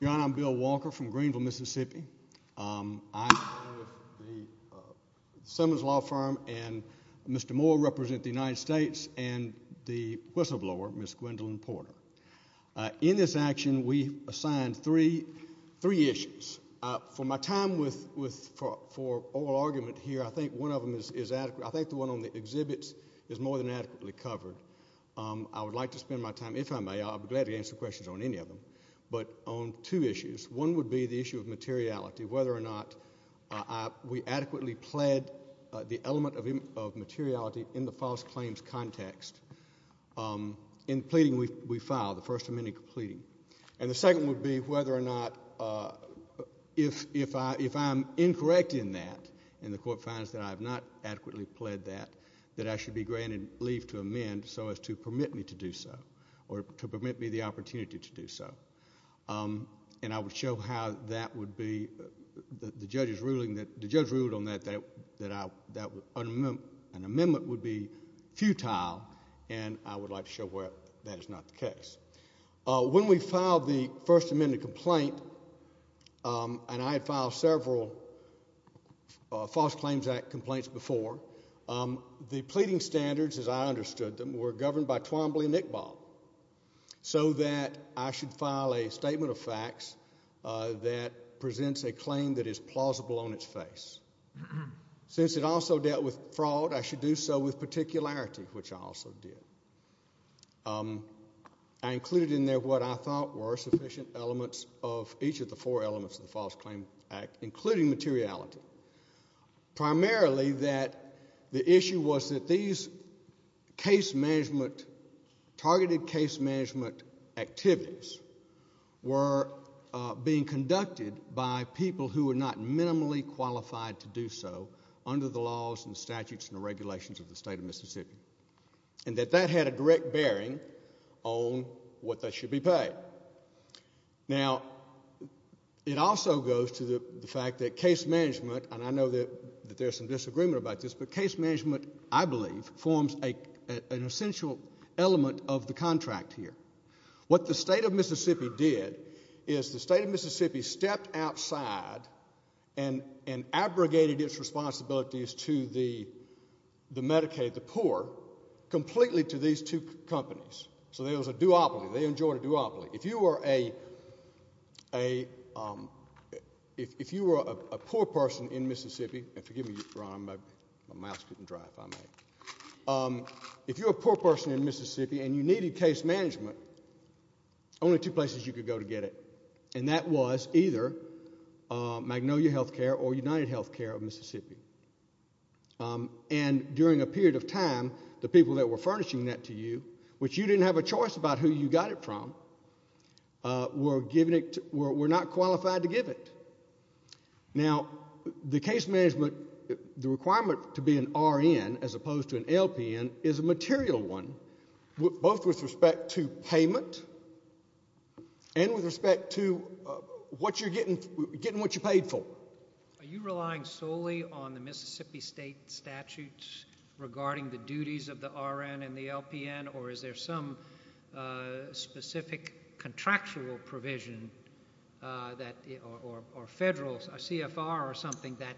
Your Honor, I'm Bill Walker from Greenville, Mississippi. I am the owner of the Simmons Law Firm, and Mr. Moore represents the United States, and the whistleblower, Ms. Gwendolyn Porter. In this action, we assigned three issues. For my time for oral argument here, I think one of them is adequate. I think the one on the exhibits is more than adequately covered. I would like to spend my time, if I may, I'll be glad to answer questions on any of them, but on two issues. One would be the issue of materiality, whether or not we adequately pled the element of materiality in the false claims context. In pleading, we file the first amending pleading. And the second would be whether or not if I'm incorrect in that, and the court finds that I have not adequately pled that, that I should be granted leave to amend so as to permit me to do so, or to permit me the opportunity to do so. And I would show how that would be the judge's ruling. The judge ruled on that, that an amendment would be futile, and I would like to show where that is not the case. When we filed the first amended complaint, and I had filed several False Claims Act complaints before, the pleading standards as I understood them were governed by Twombly and Iqbal, so that I should file a statement of facts that presents a claim that is plausible on its face. Since it also dealt with fraud, I should do so with particularity, which I also did. I included in there what I thought were sufficient elements of each of the four elements of the False Claims Act, including materiality. Primarily, the issue was that these targeted case management activities were being conducted by people who were not minimally qualified to do so under the laws and statutes and regulations of the state of Mississippi. And that that had a direct bearing on what they should be paid. Now, it also goes to the fact that case management, and I know that there's some disagreement about this, but case management, I believe, forms an essential element of the contract here. What the state of Mississippi did is the state of Mississippi stepped outside and abrogated its responsibilities to the Medicaid, the poor, completely to these two companies. So there was a duopoly. They enjoyed a duopoly. If you were a poor person in Mississippi and you needed case management, only two places you could go to get it. And that was either Magnolia Healthcare or UnitedHealthcare of Mississippi. And during a period of time, the people that were furnishing that to you, which you didn't have a choice about who you got it from, were not qualified to give it. Now, the case management, the requirement to be an RN as opposed to an LPN is a material one, both with respect to payment and with respect to getting what you paid for. Are you relying solely on the Mississippi state statutes regarding the duties of the RN and the LPN, or is there some specific contractual provision or federal CFR or something that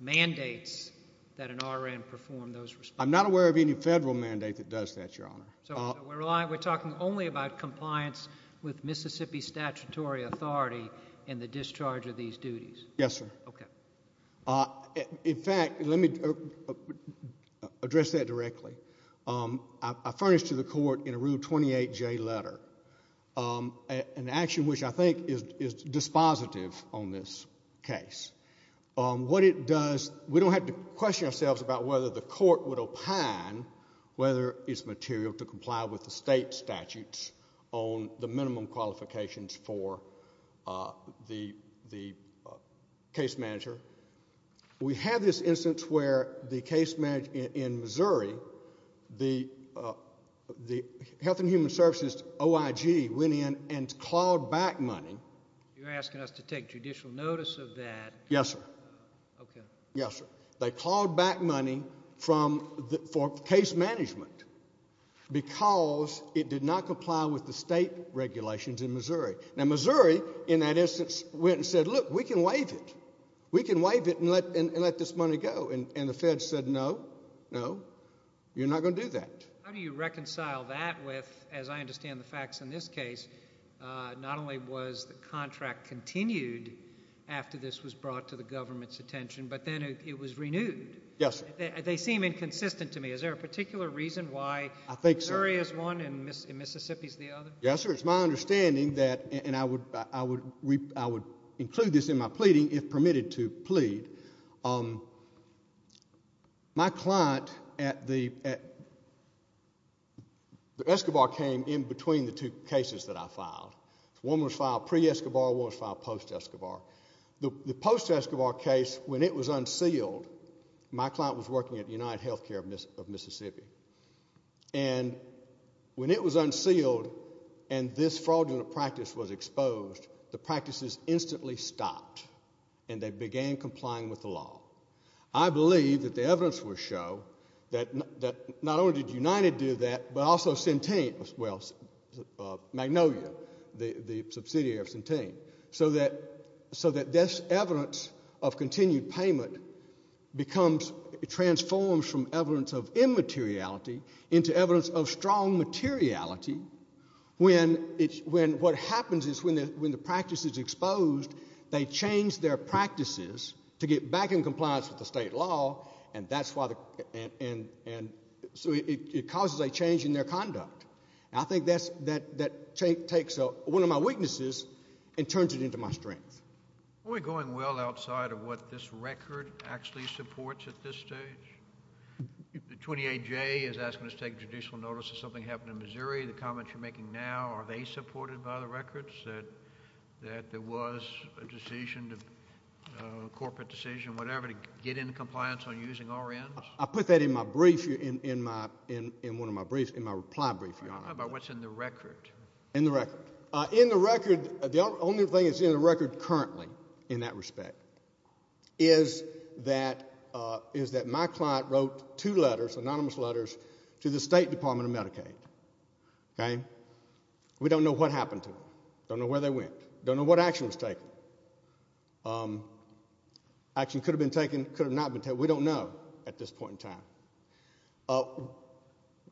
mandates that an RN perform those responsibilities? I'm not aware of any federal mandate that does that, Your Honor. So we're talking only about compliance with Mississippi statutory authority in the discharge of these duties? Yes, sir. Okay. In fact, let me address that directly. I furnished to the court in a Rule 28J letter an action which I think is dispositive on this case. What it does, we don't have to question ourselves about whether the court would opine whether it's material to comply with the state statutes on the minimum qualifications for the case manager. We have this instance where the case manager in Missouri, the Health and Human Services OIG, went in and clawed back money. You're asking us to take judicial notice of that? Yes, sir. Okay. Yes, sir. They clawed back money for case management because it did not comply with the state regulations in Missouri. Now, Missouri in that instance went and said, look, we can waive it. We can waive it and let this money go. And the Fed said, no, no, you're not going to do that. How do you reconcile that with, as I understand the facts in this case, not only was the contract continued after this was brought to the government's attention, but then it was renewed? Yes, sir. They seem inconsistent to me. Is there a particular reason why Missouri is one and Mississippi is the other? Yes, sir. It's my understanding that, and I would include this in my pleading if permitted to plead, my client at the Escobar came in between the two cases that I filed. One was filed pre-Escobar, one was filed post-Escobar. The post-Escobar case, when it was unsealed, my client was working at United Healthcare of Mississippi. And when it was unsealed and this fraudulent practice was exposed, the practices instantly stopped and they began complying with the law. I believe that the evidence will show that not only did United do that, but also Centene, well, Magnolia, the subsidiary of Centene, so that this evidence of continued payment becomes, transforms from evidence of immateriality into evidence of strong materiality when what happens is when the practice is exposed, they change their practices to get back in compliance with the state law, and so it causes a change in their conduct. And I think that takes one of my weaknesses and turns it into my strength. Are we going well outside of what this record actually supports at this stage? The 28J is asking us to take judicial notice of something happening in Missouri. The comments you're making now, are they supported by the records that there was a decision, a corporate decision, whatever, to get into compliance on using RNs? I put that in my brief, in one of my briefs, in my reply brief, Your Honor. How about what's in the record? In the record. In the record, the only thing that's in the record currently in that respect is that my client wrote two letters, anonymous letters, to the State Department of Medicaid, okay? We don't know what happened to them. Don't know where they went. Don't know what action was taken. Action could have been taken, could have not been taken. We don't know at this point in time.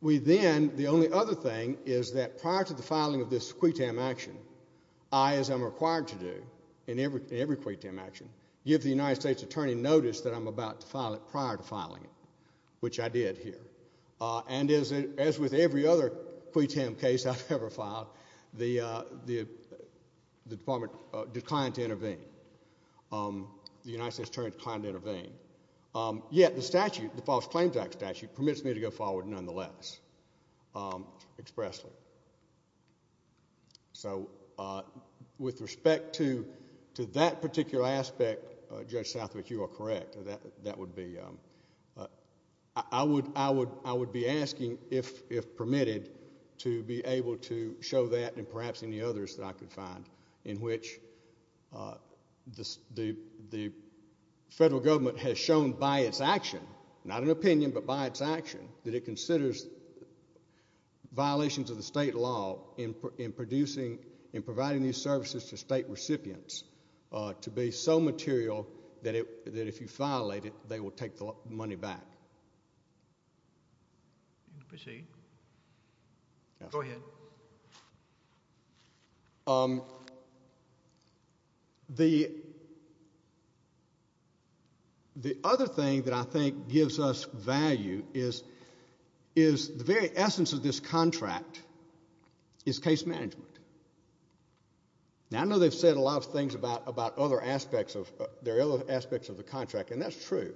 We then, the only other thing is that prior to the filing of this QUTAM action, I, as I'm required to do in every QUTAM action, give the United States Attorney notice that I'm about to file it prior to filing it, which I did here. And as with every other QUTAM case I've ever filed, the Department declined to intervene. The United States Attorney declined to intervene. Yet the statute, the False Claims Act statute, permits me to go forward nonetheless expressly. So with respect to that particular aspect, Judge Southwick, you are correct. That would be, I would be asking if permitted to be able to show that and perhaps any others that I could find in which the federal government has shown by its action, not an opinion but by its action, that it considers violations of the state law in producing, in providing these services to state recipients to be so material that if you file it, they will take the money back. Proceed. Go ahead. Thank you. The other thing that I think gives us value is the very essence of this contract is case management. Now, I know they've said a lot of things about other aspects of the contract, and that's true.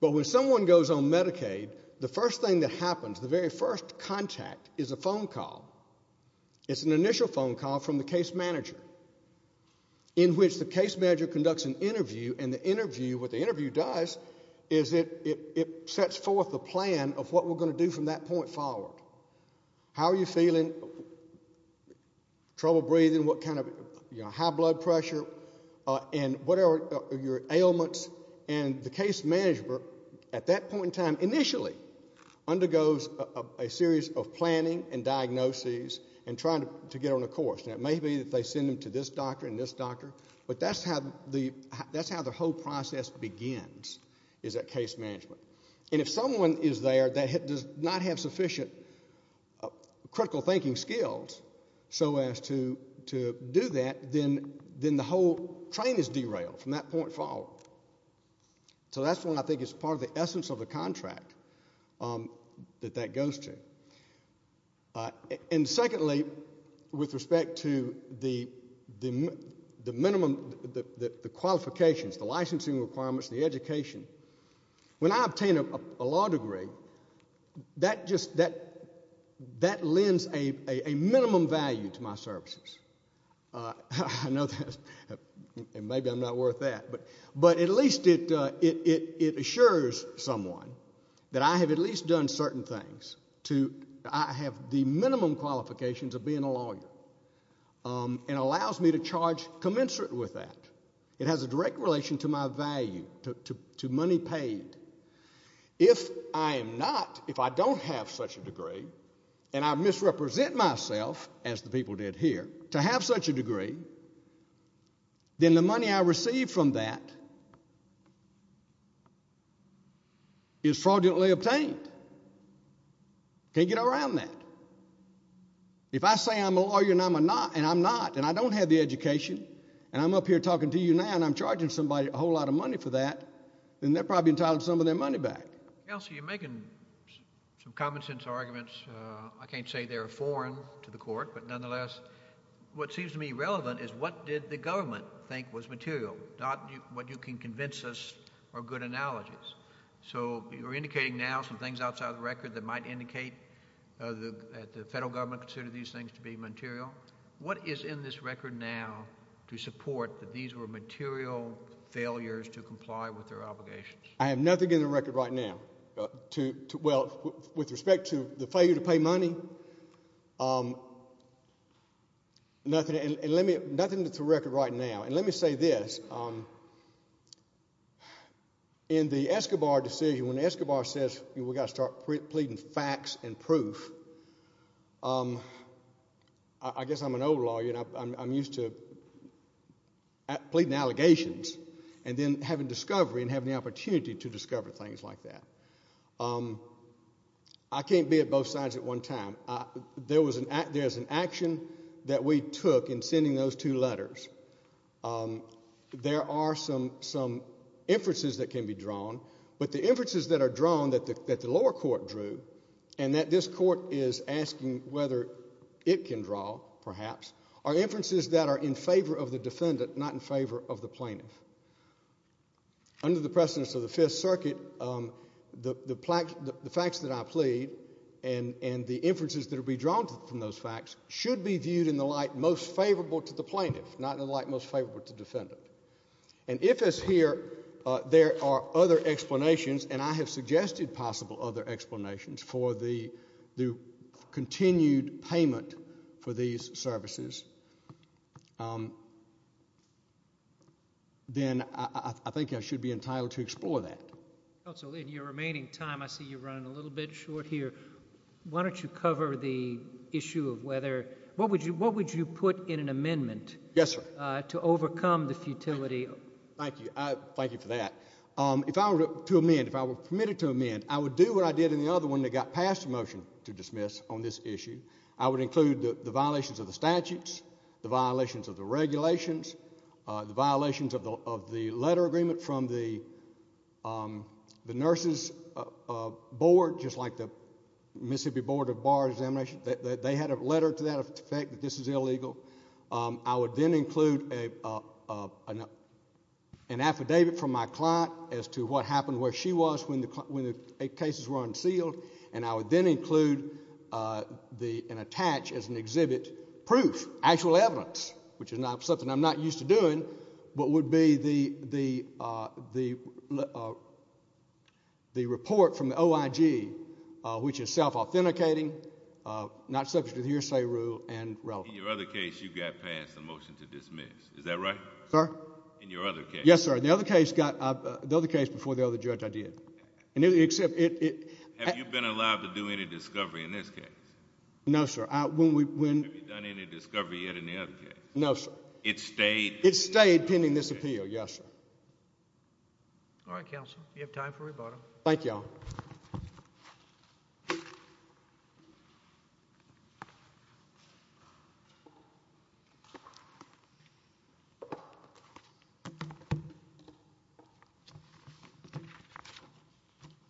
But when someone goes on Medicaid, the first thing that happens, the very first contact is a phone call. It's an initial phone call from the case manager in which the case manager conducts an interview, and the interview, what the interview does is it sets forth the plan of what we're going to do from that point forward. How are you feeling? Trouble breathing? What kind of, you know, high blood pressure? And what are your ailments? And the case manager at that point in time initially undergoes a series of planning and diagnoses and trying to get on a course. Now, it may be that they send them to this doctor and this doctor, but that's how the whole process begins is that case management. And if someone is there that does not have sufficient critical thinking skills so as to do that, then the whole train is derailed from that point forward. So that's when I think it's part of the essence of the contract that that goes to. And secondly, with respect to the minimum, the qualifications, the licensing requirements, the education, when I obtain a law degree, that just, that lends a minimum value to my services. I know that, and maybe I'm not worth that, but at least it assures someone that I have at least done certain things to, I have the minimum qualifications of being a lawyer and allows me to charge commensurate with that. It has a direct relation to my value, to money paid. If I am not, if I don't have such a degree and I misrepresent myself, as the people did here, to have such a degree, then the money I receive from that is fraudulently obtained. Can't get around that. If I say I'm a lawyer and I'm not, and I'm not, and I don't have the education, and I'm up here talking to you now and I'm charging somebody a whole lot of money for that, then they're probably entitled to some of their money back. Kelsey, you're making some common sense arguments. I can't say they're foreign to the court, but nonetheless, what seems to me relevant is what did the government think was material, not what you can convince us are good analogies. So you're indicating now some things outside of the record that might indicate that the federal government considered these things to be material. What is in this record now to support that these were material failures to comply with their obligations? I have nothing in the record right now. Well, with respect to the failure to pay money, nothing to record right now. And let me say this. In the Escobar decision, when Escobar says we've got to start pleading facts and proof, I guess I'm an old lawyer and I'm used to pleading allegations and then having discovery and having the opportunity to discover things like that. I can't be at both sides at one time. There was an action that we took in sending those two letters. There are some inferences that can be drawn, but the inferences that are drawn that the lower court drew and that this court is asking whether it can draw, perhaps, are inferences that are in favor of the defendant, not in favor of the plaintiff. Under the precedence of the Fifth Circuit, the facts that I plead and the inferences that will be drawn from those facts should be viewed in the light most favorable to the plaintiff, and if, as here, there are other explanations, and I have suggested possible other explanations for the continued payment for these services, then I think I should be entitled to explore that. Counsel, in your remaining time, I see you're running a little bit short here. Why don't you cover the issue of whether—what would you put in an amendment— Yes, sir. —to overcome the futility? Thank you. Thank you for that. If I were to amend, if I were permitted to amend, I would do what I did in the other one that got passed the motion to dismiss on this issue. I would include the violations of the statutes, the violations of the regulations, the violations of the letter agreement from the nurses' board, just like the Mississippi Board of Bar Examination. They had a letter to that effect that this is illegal. I would then include an affidavit from my client as to what happened, where she was when the cases were unsealed, and I would then include and attach as an exhibit proof, actual evidence, which is something I'm not used to doing, but would be the report from the OIG, which is self-authenticating, not subject to the hearsay rule, and relevant. In your other case, you got passed the motion to dismiss. Is that right? Sir? In your other case. Yes, sir. The other case before the other judge, I did. Have you been allowed to do any discovery in this case? No, sir. Have you done any discovery yet in the other case? No, sir. It stayed? It stayed pending this appeal, yes, sir. All right, counsel. You have time for rebuttal. Thank you all. Thank you.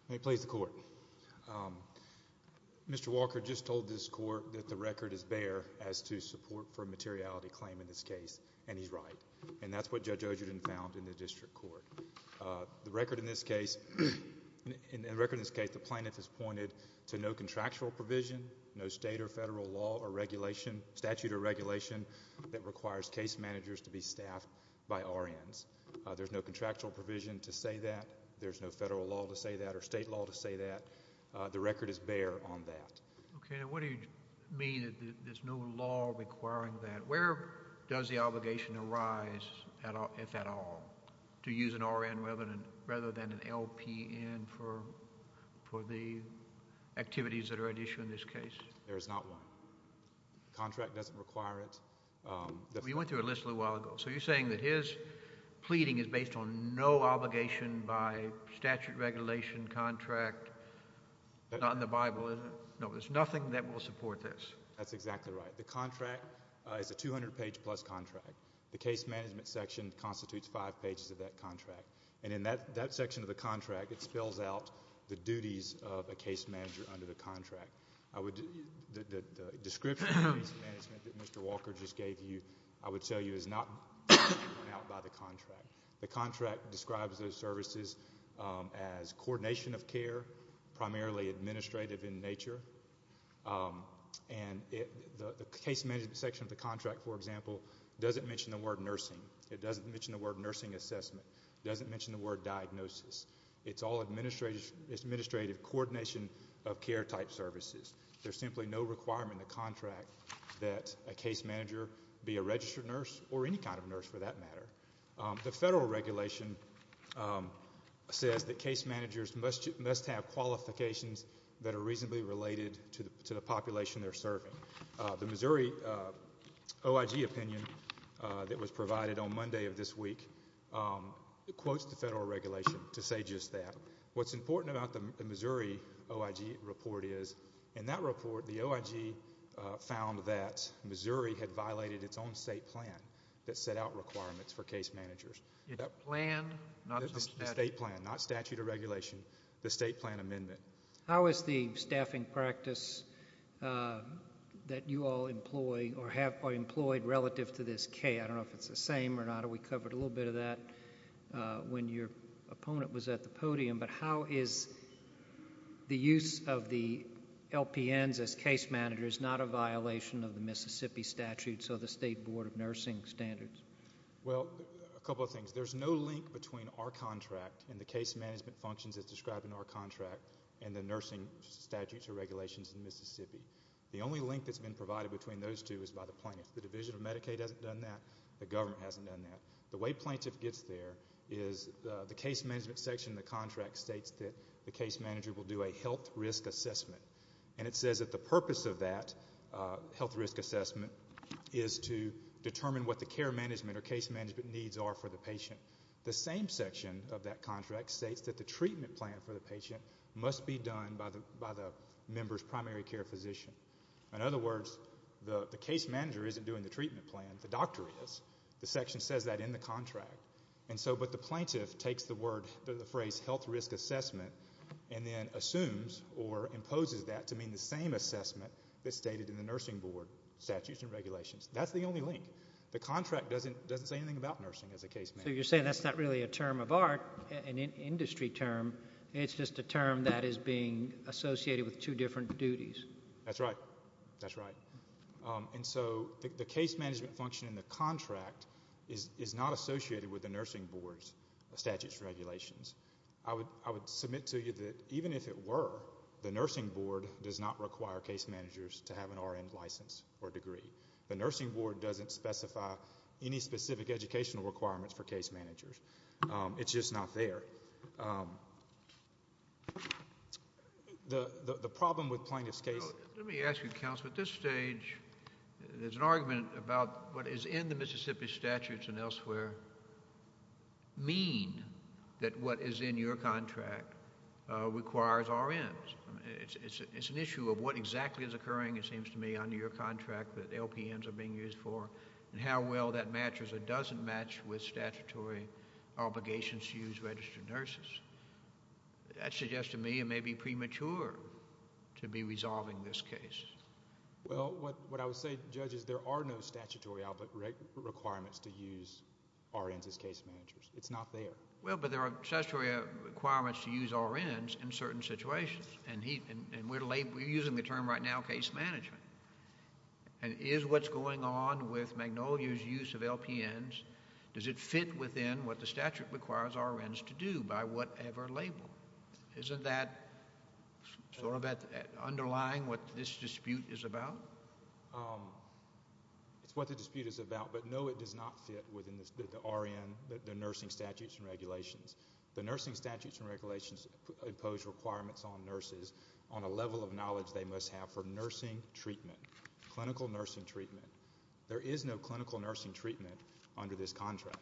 May it please the Court. Mr. Walker just told this Court that the record is bare as to support for a materiality claim in this case, and he's right, and that's what Judge Ogerton found in the district court. The record in this case, the plaintiff has pointed to no contractual provision, no state or federal law or regulation, statute or regulation, that requires case managers to be staffed by RNs. There's no contractual provision to say that. There's no federal law to say that or state law to say that. The record is bare on that. Okay, and what do you mean that there's no law requiring that? Where does the obligation arise, if at all, to use an RN rather than an LPN for the activities that are at issue in this case? There is not one. The contract doesn't require it. We went through a list a little while ago. So you're saying that his pleading is based on no obligation by statute, regulation, contract, not in the Bible, is it? No, there's nothing that will support this. That's exactly right. The contract is a 200-page-plus contract. The case management section constitutes five pages of that contract, and in that section of the contract, it spells out the duties of a case manager under the contract. The description of case management that Mr. Walker just gave you, I would tell you, is not drawn out by the contract. The contract describes those services as coordination of care, primarily administrative in nature. And the case management section of the contract, for example, doesn't mention the word nursing. It doesn't mention the word nursing assessment. It doesn't mention the word diagnosis. It's all administrative coordination of care-type services. There's simply no requirement in the contract that a case manager be a registered nurse or any kind of nurse, for that matter. The federal regulation says that case managers must have qualifications that are reasonably related to the population they're serving. The Missouri OIG opinion that was provided on Monday of this week quotes the federal regulation to say just that. What's important about the Missouri OIG report is, in that report, the OIG found that Missouri had violated its own state plan that set out requirements for case managers. The plan, not the statute. The state plan, not statute or regulation. The state plan amendment. How is the staffing practice that you all employ or have employed relative to this K? I don't know if it's the same or not. I know we covered a little bit of that when your opponent was at the podium. But how is the use of the LPNs as case managers not a violation of the Mississippi statute, so the state board of nursing standards? Well, a couple of things. There's no link between our contract and the case management functions as described in our contract and the nursing statutes or regulations in Mississippi. The only link that's been provided between those two is by the plaintiffs. The Division of Medicaid hasn't done that. The government hasn't done that. The way plaintiff gets there is the case management section in the contract states that the case manager will do a health risk assessment. And it says that the purpose of that health risk assessment is to determine what the care management or case management needs are for the patient. The same section of that contract states that the treatment plan for the patient must be done by the member's primary care physician. In other words, the case manager isn't doing the treatment plan. The doctor is. The section says that in the contract. But the plaintiff takes the phrase health risk assessment and then assumes or imposes that to mean the same assessment that's stated in the nursing board statutes and regulations. That's the only link. The contract doesn't say anything about nursing as a case manager. So you're saying that's not really a term of art, an industry term. It's just a term that is being associated with two different duties. That's right. That's right. And so the case management function in the contract is not associated with the nursing board's statutes and regulations. I would submit to you that even if it were, the nursing board does not require case managers to have an RN license or degree. The nursing board doesn't specify any specific educational requirements for case managers. The problem with plaintiff's case. Let me ask you, counsel, at this stage there's an argument about what is in the Mississippi statutes and elsewhere mean that what is in your contract requires RNs. It's an issue of what exactly is occurring, it seems to me, under your contract that LPNs are being used for and how well that matches or doesn't match with statutory obligations to use registered nurses. That suggests to me it may be premature to be resolving this case. Well, what I would say, Judge, is there are no statutory requirements to use RNs as case managers. It's not there. Well, but there are statutory requirements to use RNs in certain situations and we're using the term right now, case management. Is what's going on with Magnolia's use of LPNs, does it fit within what the court has ever labeled? Isn't that sort of underlying what this dispute is about? It's what the dispute is about, but no, it does not fit within the RN, the nursing statutes and regulations. The nursing statutes and regulations impose requirements on nurses on a level of knowledge they must have for nursing treatment, clinical nursing treatment. There is no clinical nursing treatment under this contract.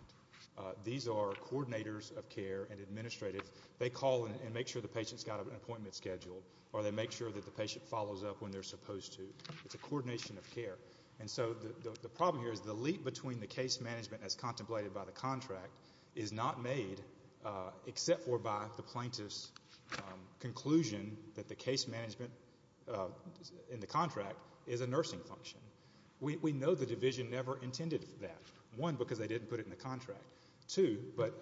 These are coordinators of care and administrative. They call and make sure the patient's got an appointment scheduled or they make sure that the patient follows up when they're supposed to. It's a coordination of care. And so the problem here is the leap between the case management as contemplated by the contract is not made except for by the plaintiff's conclusion that the case management in the contract is a nursing function. We know the division never intended that. One, because they didn't put it in the contract. Two, but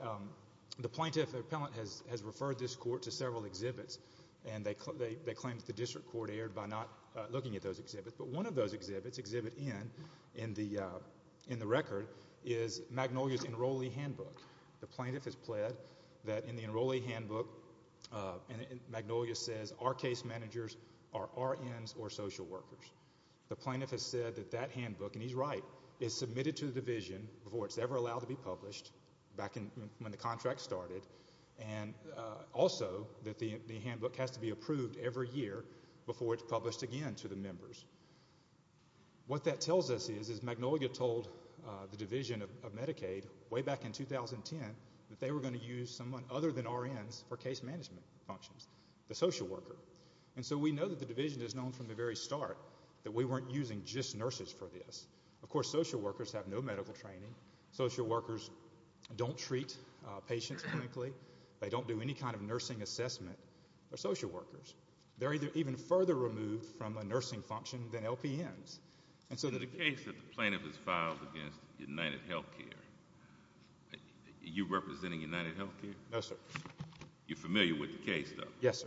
the plaintiff or appellant has referred this court to several exhibits and they claim that the district court erred by not looking at those exhibits. But one of those exhibits, Exhibit N in the record, is Magnolia's enrollee handbook. The plaintiff has pled that in the enrollee handbook, Magnolia says, our case managers are RNs or social workers. The plaintiff has said that that handbook, and he's right, is submitted to the division before it's ever allowed to be published back when the contract started and also that the handbook has to be approved every year before it's published again to the members. What that tells us is, is Magnolia told the division of Medicaid way back in 2010 that they were going to use someone other than RNs for case management functions, the social worker. And so we know that the division has known from the very start that we weren't using just nurses for this. Of course, social workers have no medical training. Social workers don't treat patients clinically. They don't do any kind of nursing assessment. They're social workers. They're even further removed from a nursing function than LPNs. And so the case that the plaintiff has filed against UnitedHealthcare, are you representing UnitedHealthcare? No, sir. You're familiar with the case, though? Yes, sir.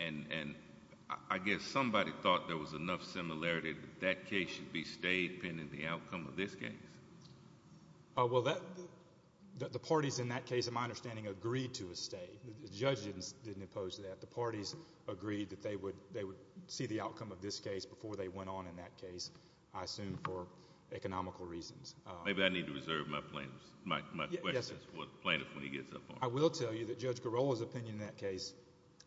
And I guess somebody thought there was enough similarity that that case should be stayed pending the outcome of this case. Well, the parties in that case, in my understanding, agreed to a stay. The judge didn't oppose that. The parties agreed that they would see the outcome of this case before they went on in that case, I assume for economical reasons. Maybe I need to reserve my questions for the plaintiff when he gets up on it. I will tell you that Judge Garola's opinion in that case,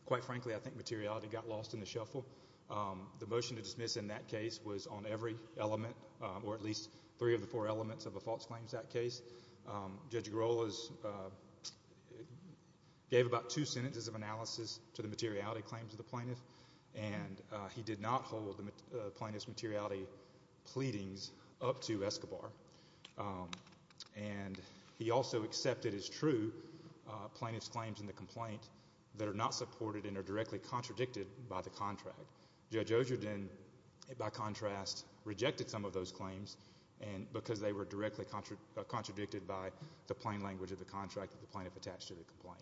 quite frankly, I think materiality got lost in the shuffle. The motion to dismiss in that case was on every element, or at least three of the four elements of a false claims act case. Judge Garola gave about two sentences of analysis to the materiality claims of the plaintiff, and he did not hold the plaintiff's materiality pleadings up to Escobar. And he also accepted as true plaintiff's claims in the complaint that are not in the contract. Judge Ogerden, by contrast, rejected some of those claims because they were directly contradicted by the plain language of the contract that the plaintiff attached to the complaint.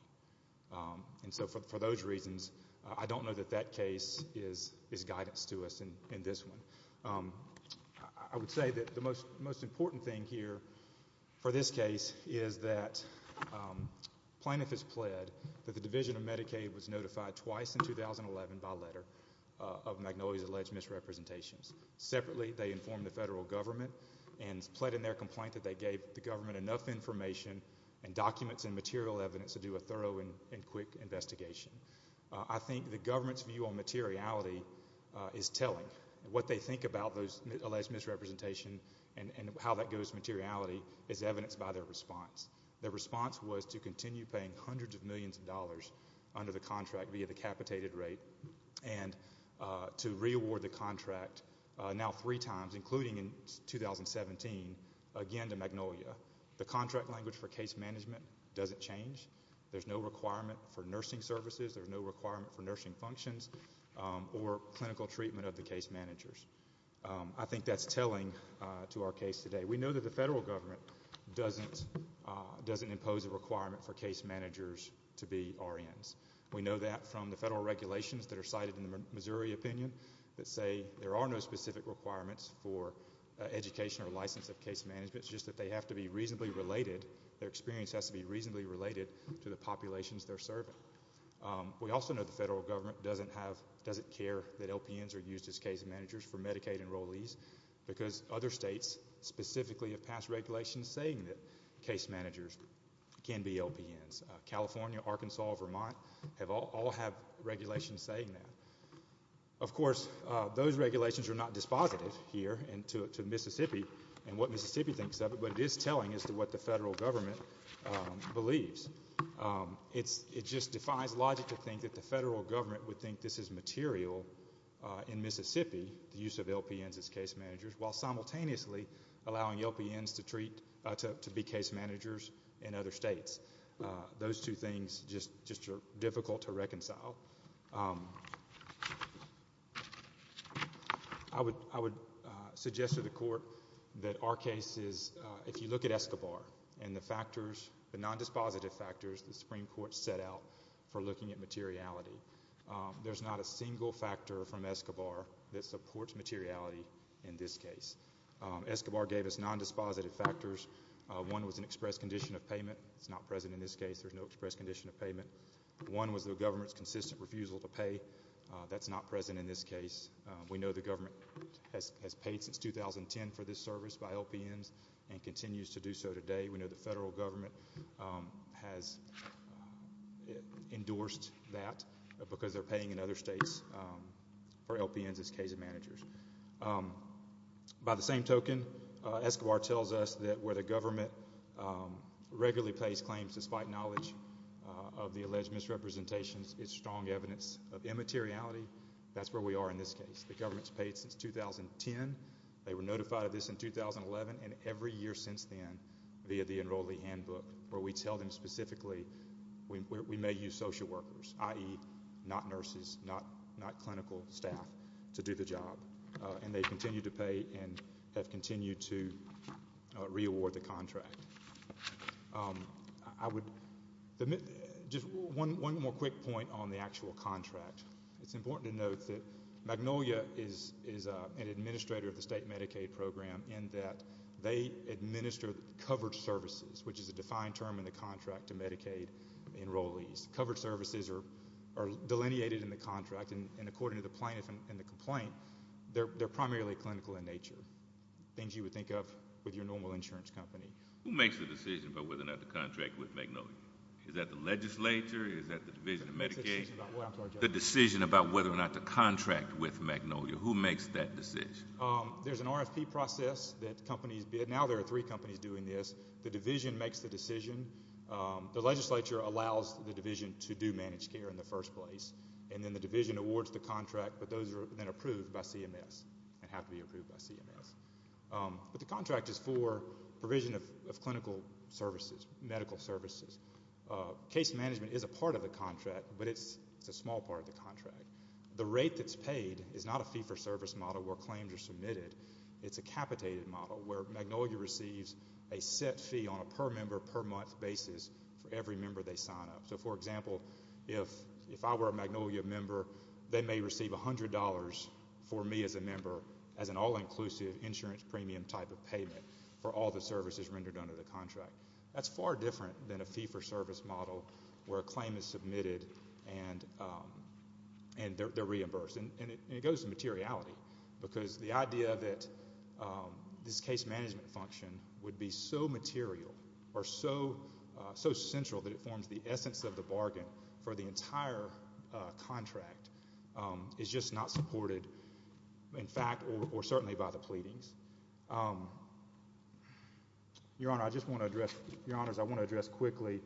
And so for those reasons, I don't know that that case is guidance to us in this one. I would say that the most important thing here for this case is that the plaintiff has pled that the Division of Medicaid was notified twice in 2011 by letter of Magnolia's alleged misrepresentations. Separately, they informed the federal government and pled in their complaint that they gave the government enough information and documents and material evidence to do a thorough and quick investigation. I think the government's view on materiality is telling. What they think about those alleged misrepresentations and how that goes to materiality is evidenced by their response. Their response was to continue paying hundreds of millions of dollars under the contract via the capitated rate and to reaward the contract now three times, including in 2017, again to Magnolia. The contract language for case management doesn't change. There's no requirement for nursing services. There's no requirement for nursing functions or clinical treatment of the case managers. I think that's telling to our case today. We know that the federal government doesn't impose a requirement for case managers to be RNs. We know that from the federal regulations that are cited in the Missouri opinion that say there are no specific requirements for education or license of case management. It's just that they have to be reasonably related. Their experience has to be reasonably related to the populations they're serving. We also know the federal government doesn't care that LPNs are used as case managers for Medicaid enrollees because other states specifically have passed regulations saying that case managers can be LPNs. California, Arkansas, Vermont all have regulations saying that. Of course, those regulations are not dispositive here to Mississippi and what Mississippi thinks of it, but it is telling as to what the federal government believes. It just defies logic to think that the federal government would think this is material in Mississippi, the use of LPNs as case managers, while simultaneously allowing LPNs to be case managers in other states. Those two things just are difficult to reconcile. I would suggest to the court that our case is, if you look at Escobar and the factors, the non-dispositive factors the Supreme Court set out for looking at materiality, there's not a single factor from Escobar that supports materiality in this case. Escobar gave us non-dispositive factors. One was an express condition of payment. It's not present in this case. There's no express condition of payment. One was the government's consistent refusal to pay. That's not present in this case. We know the government has paid since 2010 for this service by LPNs and continues to do so today. We know the federal government has endorsed that because they're paying in other states for LPNs as case managers. By the same token, Escobar tells us that where the government regularly pays claims despite knowledge of the alleged misrepresentations, it's strong evidence of immateriality. That's where we are in this case. The government's paid since 2010. They were notified of this in 2011 and every year since then via the enrollee handbook where we tell them specifically we may use social workers, i.e. not nurses, not clinical staff, to do the job. And they continue to pay and have continued to reaward the contract. Just one more quick point on the actual contract. It's important to note that Magnolia is an administrator of the state Medicaid program in that they administer covered services, which is a defined term in the contract to Medicaid enrollees. Covered services are delineated in the contract, and according to the plaintiff in the complaint, they're primarily clinical in nature, things you would think of with your normal insurance company. Who makes the decision about whether or not to contract with Magnolia? Is that the Division of Medicaid? The decision about whether or not to contract with Magnolia. Who makes that decision? There's an RFP process that companies bid. Now there are three companies doing this. The Division makes the decision. The legislature allows the Division to do managed care in the first place, and then the Division awards the contract, but those are then approved by CMS and have to be approved by CMS. But the contract is for provision of clinical services, medical services. Case management is a part of the contract, but it's a small part of the contract. The rate that's paid is not a fee-for-service model where claims are submitted. It's a capitated model where Magnolia receives a set fee on a per-member, per-month basis for every member they sign up. So, for example, if I were a Magnolia member, they may receive $100 for me as a member as an all-inclusive insurance premium type of payment for all the services rendered under the contract. That's far different than a fee-for-service model where a claim is submitted and they're reimbursed. And it goes to materiality because the idea that this case management function would be so material or so central that it forms the essence of the bargain for the entire contract is just not supported in fact or certainly by the pleadings. Your Honor, I just want to address, Your Honors, I want to address quickly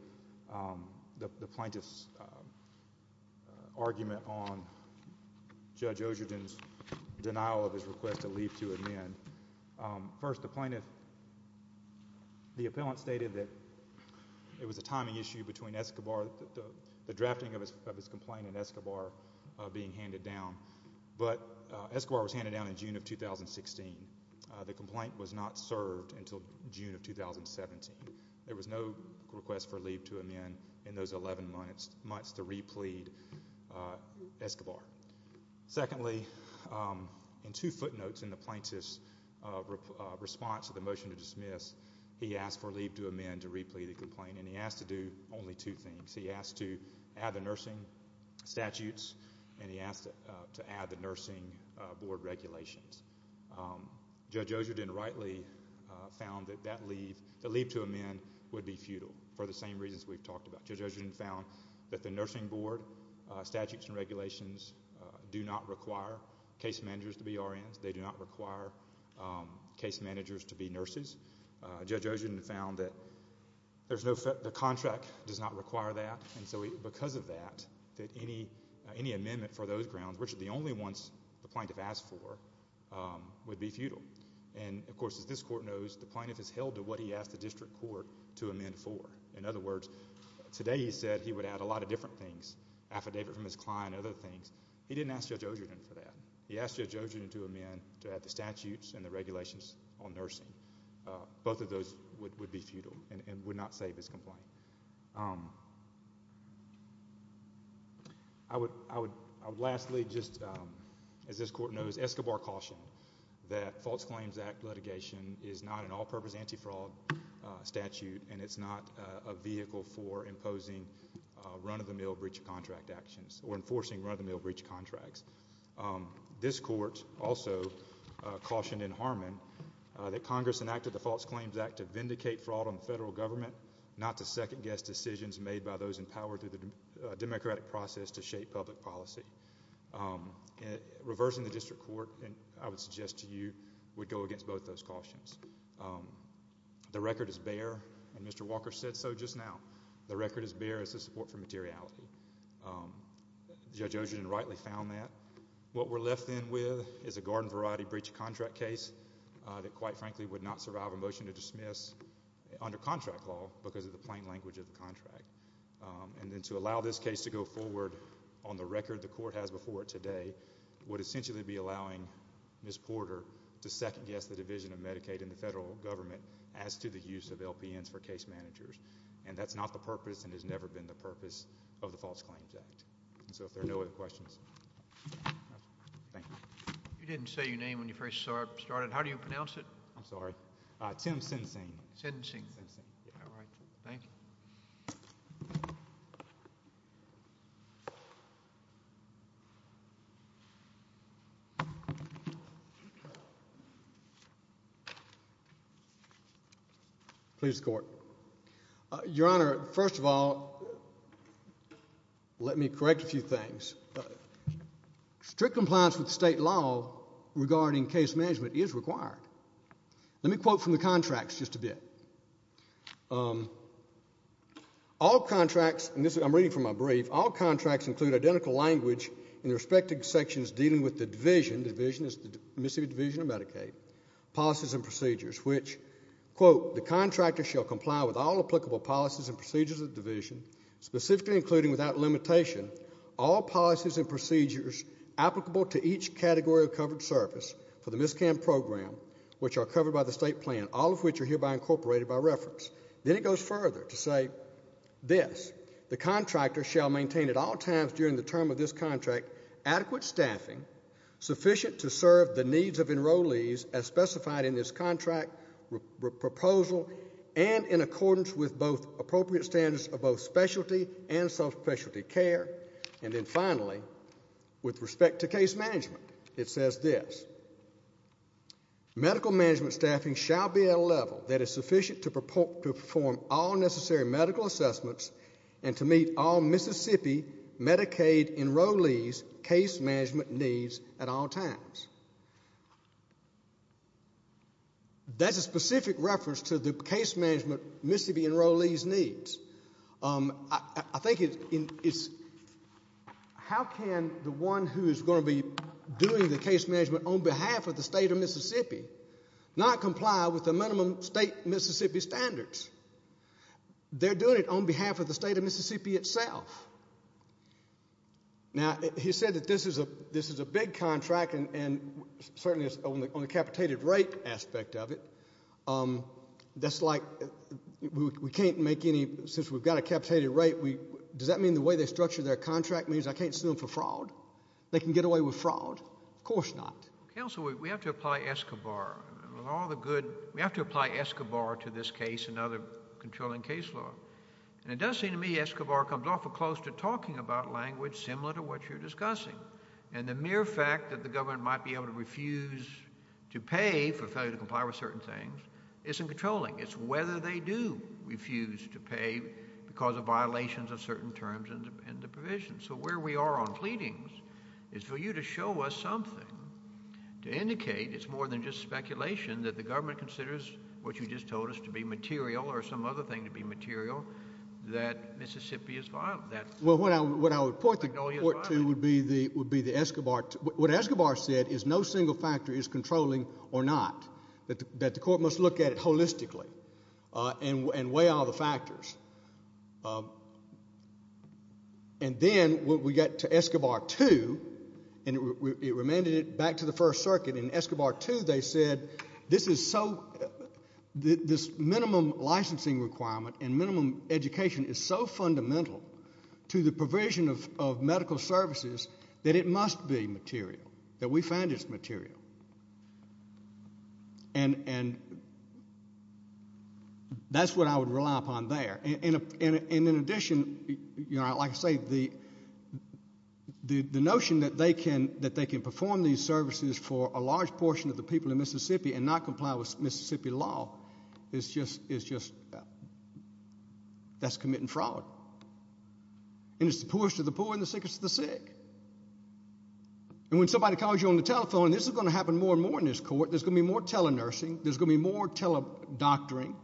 the plaintiff's argument on Judge Osherden's denial of his request to leave to amend. First, the plaintiff, the appellant stated that it was a timing issue between Escobar, the drafting of his complaint and Escobar being handed down. But Escobar was handed down in June of 2016. The complaint was not served until June of 2017. There was no request for leave to amend in those 11 months to re-plead Escobar. Secondly, in two footnotes in the plaintiff's response to the motion to dismiss, he asked for leave to amend to re-plead the complaint and he asked to do only two things. He asked to add the nursing statutes and he asked to add the nursing board regulations. Judge Osherden rightly found that that leave, the leave to amend, would be futile for the same reasons we've talked about. Judge Osherden found that the nursing board statutes and regulations do not require case managers to be RNs. They do not require case managers to be nurses. Judge Osherden found that the contract does not require that. And so because of that, any amendment for those grounds, which are the only ones the plaintiff asked for, would be futile. And, of course, as this court knows, the plaintiff has held to what he asked the district court to amend for. In other words, today he said he would add a lot of different things, affidavit from his client and other things. He didn't ask Judge Osherden for that. He asked Judge Osherden to amend to add the statutes and the regulations on nursing. Both of those would be futile and would not save his complaint. I would lastly just, as this court knows, Escobar cautioned that False Claims Act litigation is not an all-purpose anti-fraud statute and it's not a vehicle for imposing run-of-the-mill breach contract actions or enforcing run-of-the-mill breach contracts. This court also cautioned in Harmon that Congress enacted the False Claims Act to vindicate fraud on the federal government, not to second-guess decisions made by those in power through the democratic process to shape public policy. Reversing the district court, I would suggest to you, would go against both those cautions. The record is bare, and Mr. Walker said so just now. The record is bare as to support for materiality. Judge Osherden rightly found that. What we're left then with is a garden variety breach contract case that, quite frankly, would not survive a motion to dismiss under contract law because of the plain language of the contract. And then to allow this case to go forward on the record the court has before it today would essentially be allowing Ms. Porter to second-guess the division of Medicaid in the federal government as to the use of LPNs for case managers. And that's not the purpose and has never been the purpose of the False Claims Act. So if there are no other questions. Thank you. You didn't say your name when you first started. How do you pronounce it? I'm sorry. Tim Sensing. Sensing. Thank you. Please, Court. Your Honor, first of all, let me correct a few things. Strict compliance with state law regarding case management is required. Let me quote from the contracts just a bit. All contracts, and I'm reading from my brief, all contracts include identical language in the respective sections dealing with the division, division is the Mississippi Division of Medicaid, policies and procedures, which, quote, the contractor shall comply with all applicable policies and procedures of the division, specifically including without limitation all policies and procedures applicable to each category of covered service for the MISCAM program, which are covered by the state plan, all of which are hereby incorporated by reference. Then it goes further to say this. The contractor shall maintain at all times during the term of this contract adequate staffing sufficient to serve the needs of enrollees as specified in this contract proposal and in accordance with both appropriate standards of both specialty and subspecialty care. And then finally, with respect to case management, it says this. Medical management staffing shall be at a level that is sufficient to perform all necessary medical assessments and to meet all Mississippi Medicaid enrollees' case management needs at all times. That's a specific reference to the case management Mississippi enrollees' needs. I think it's how can the one who is going to be doing the case management on behalf of the state of Mississippi not comply with the minimum state Mississippi standards? They're doing it on behalf of the state of Mississippi itself. Now, he said that this is a big contract, and certainly on the capitated rate aspect of it, that's like we can't make any, since we've got a capitated rate, does that mean the way they structure their contract means I can't sue them for fraud? They can get away with fraud? Of course not. Counsel, we have to apply ESCOBAR. We have to apply ESCOBAR to this case and other controlling case law. And it does seem to me ESCOBAR comes off of close to talking about language similar to what you're discussing. And the mere fact that the government might be able to refuse to pay for failure to comply with certain things isn't controlling. It's whether they do refuse to pay because of violations of certain terms and the provisions. So where we are on pleadings is for you to show us something to indicate it's more than just speculation that the government considers what you just told us to be material or some other thing to be material that Mississippi is violent. Well, what I would point to would be the ESCOBAR. What ESCOBAR said is no single factor is controlling or not, that the court must look at it holistically and weigh all the factors. And then when we got to ESCOBAR 2 and it remanded it back to the First Circuit in ESCOBAR 2, they said this is so, this minimum licensing requirement and minimum education is so fundamental to the provision of medical services that it must be material, that we find it's material. And that's what I would rely upon there. And in addition, like I say, the notion that they can perform these services for a large portion of the people in Mississippi and not comply with Mississippi law is just, that's committing fraud. And it's the poorest of the poor and the sickest of the sick. And when somebody calls you on the telephone, this is going to happen more and more in this court, there's going to be more tele-nursing, there's going to be more tele-doctoring,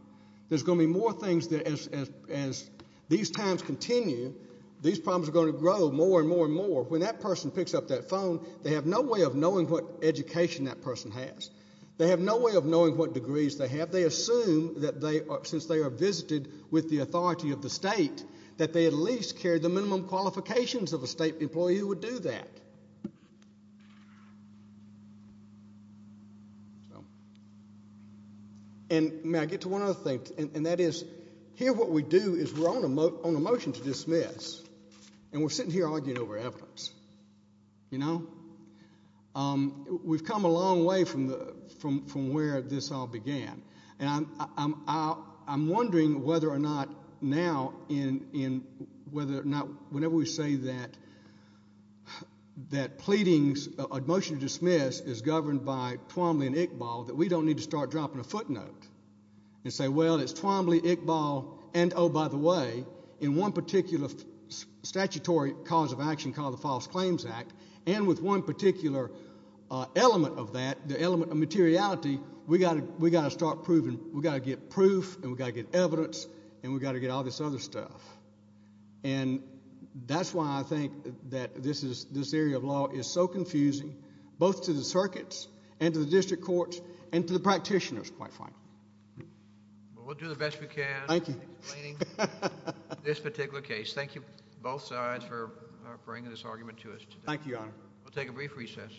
there's going to be more things as these times continue, these problems are going to grow more and more and more. When that person picks up that phone, they have no way of knowing what education that person has. They have no way of knowing what degrees they have. They assume that since they are visited with the authority of the state, that they at least carry the minimum qualifications of a state employee who would do that. And may I get to one other thing, and that is here what we do is we're on a motion to dismiss, and we're sitting here arguing over evidence, you know. We've come a long way from where this all began. And I'm wondering whether or not now in whether or not whenever we say that pleadings, a motion to dismiss is governed by Twombly and Iqbal, that we don't need to start dropping a footnote and say, well, it's Twombly, Iqbal, and oh, by the way, in one particular statutory cause of action called the False Claims Act, and with one particular element of that, the element of materiality, we've got to start proving. We've got to get proof, and we've got to get evidence, and we've got to get all this other stuff. And that's why I think that this area of law is so confusing both to the circuits and to the district courts and to the practitioners, quite frankly. Well, we'll do the best we can in explaining this particular case. Thank you both sides for bringing this argument to us today. Thank you, Your Honor. We'll take a brief recess.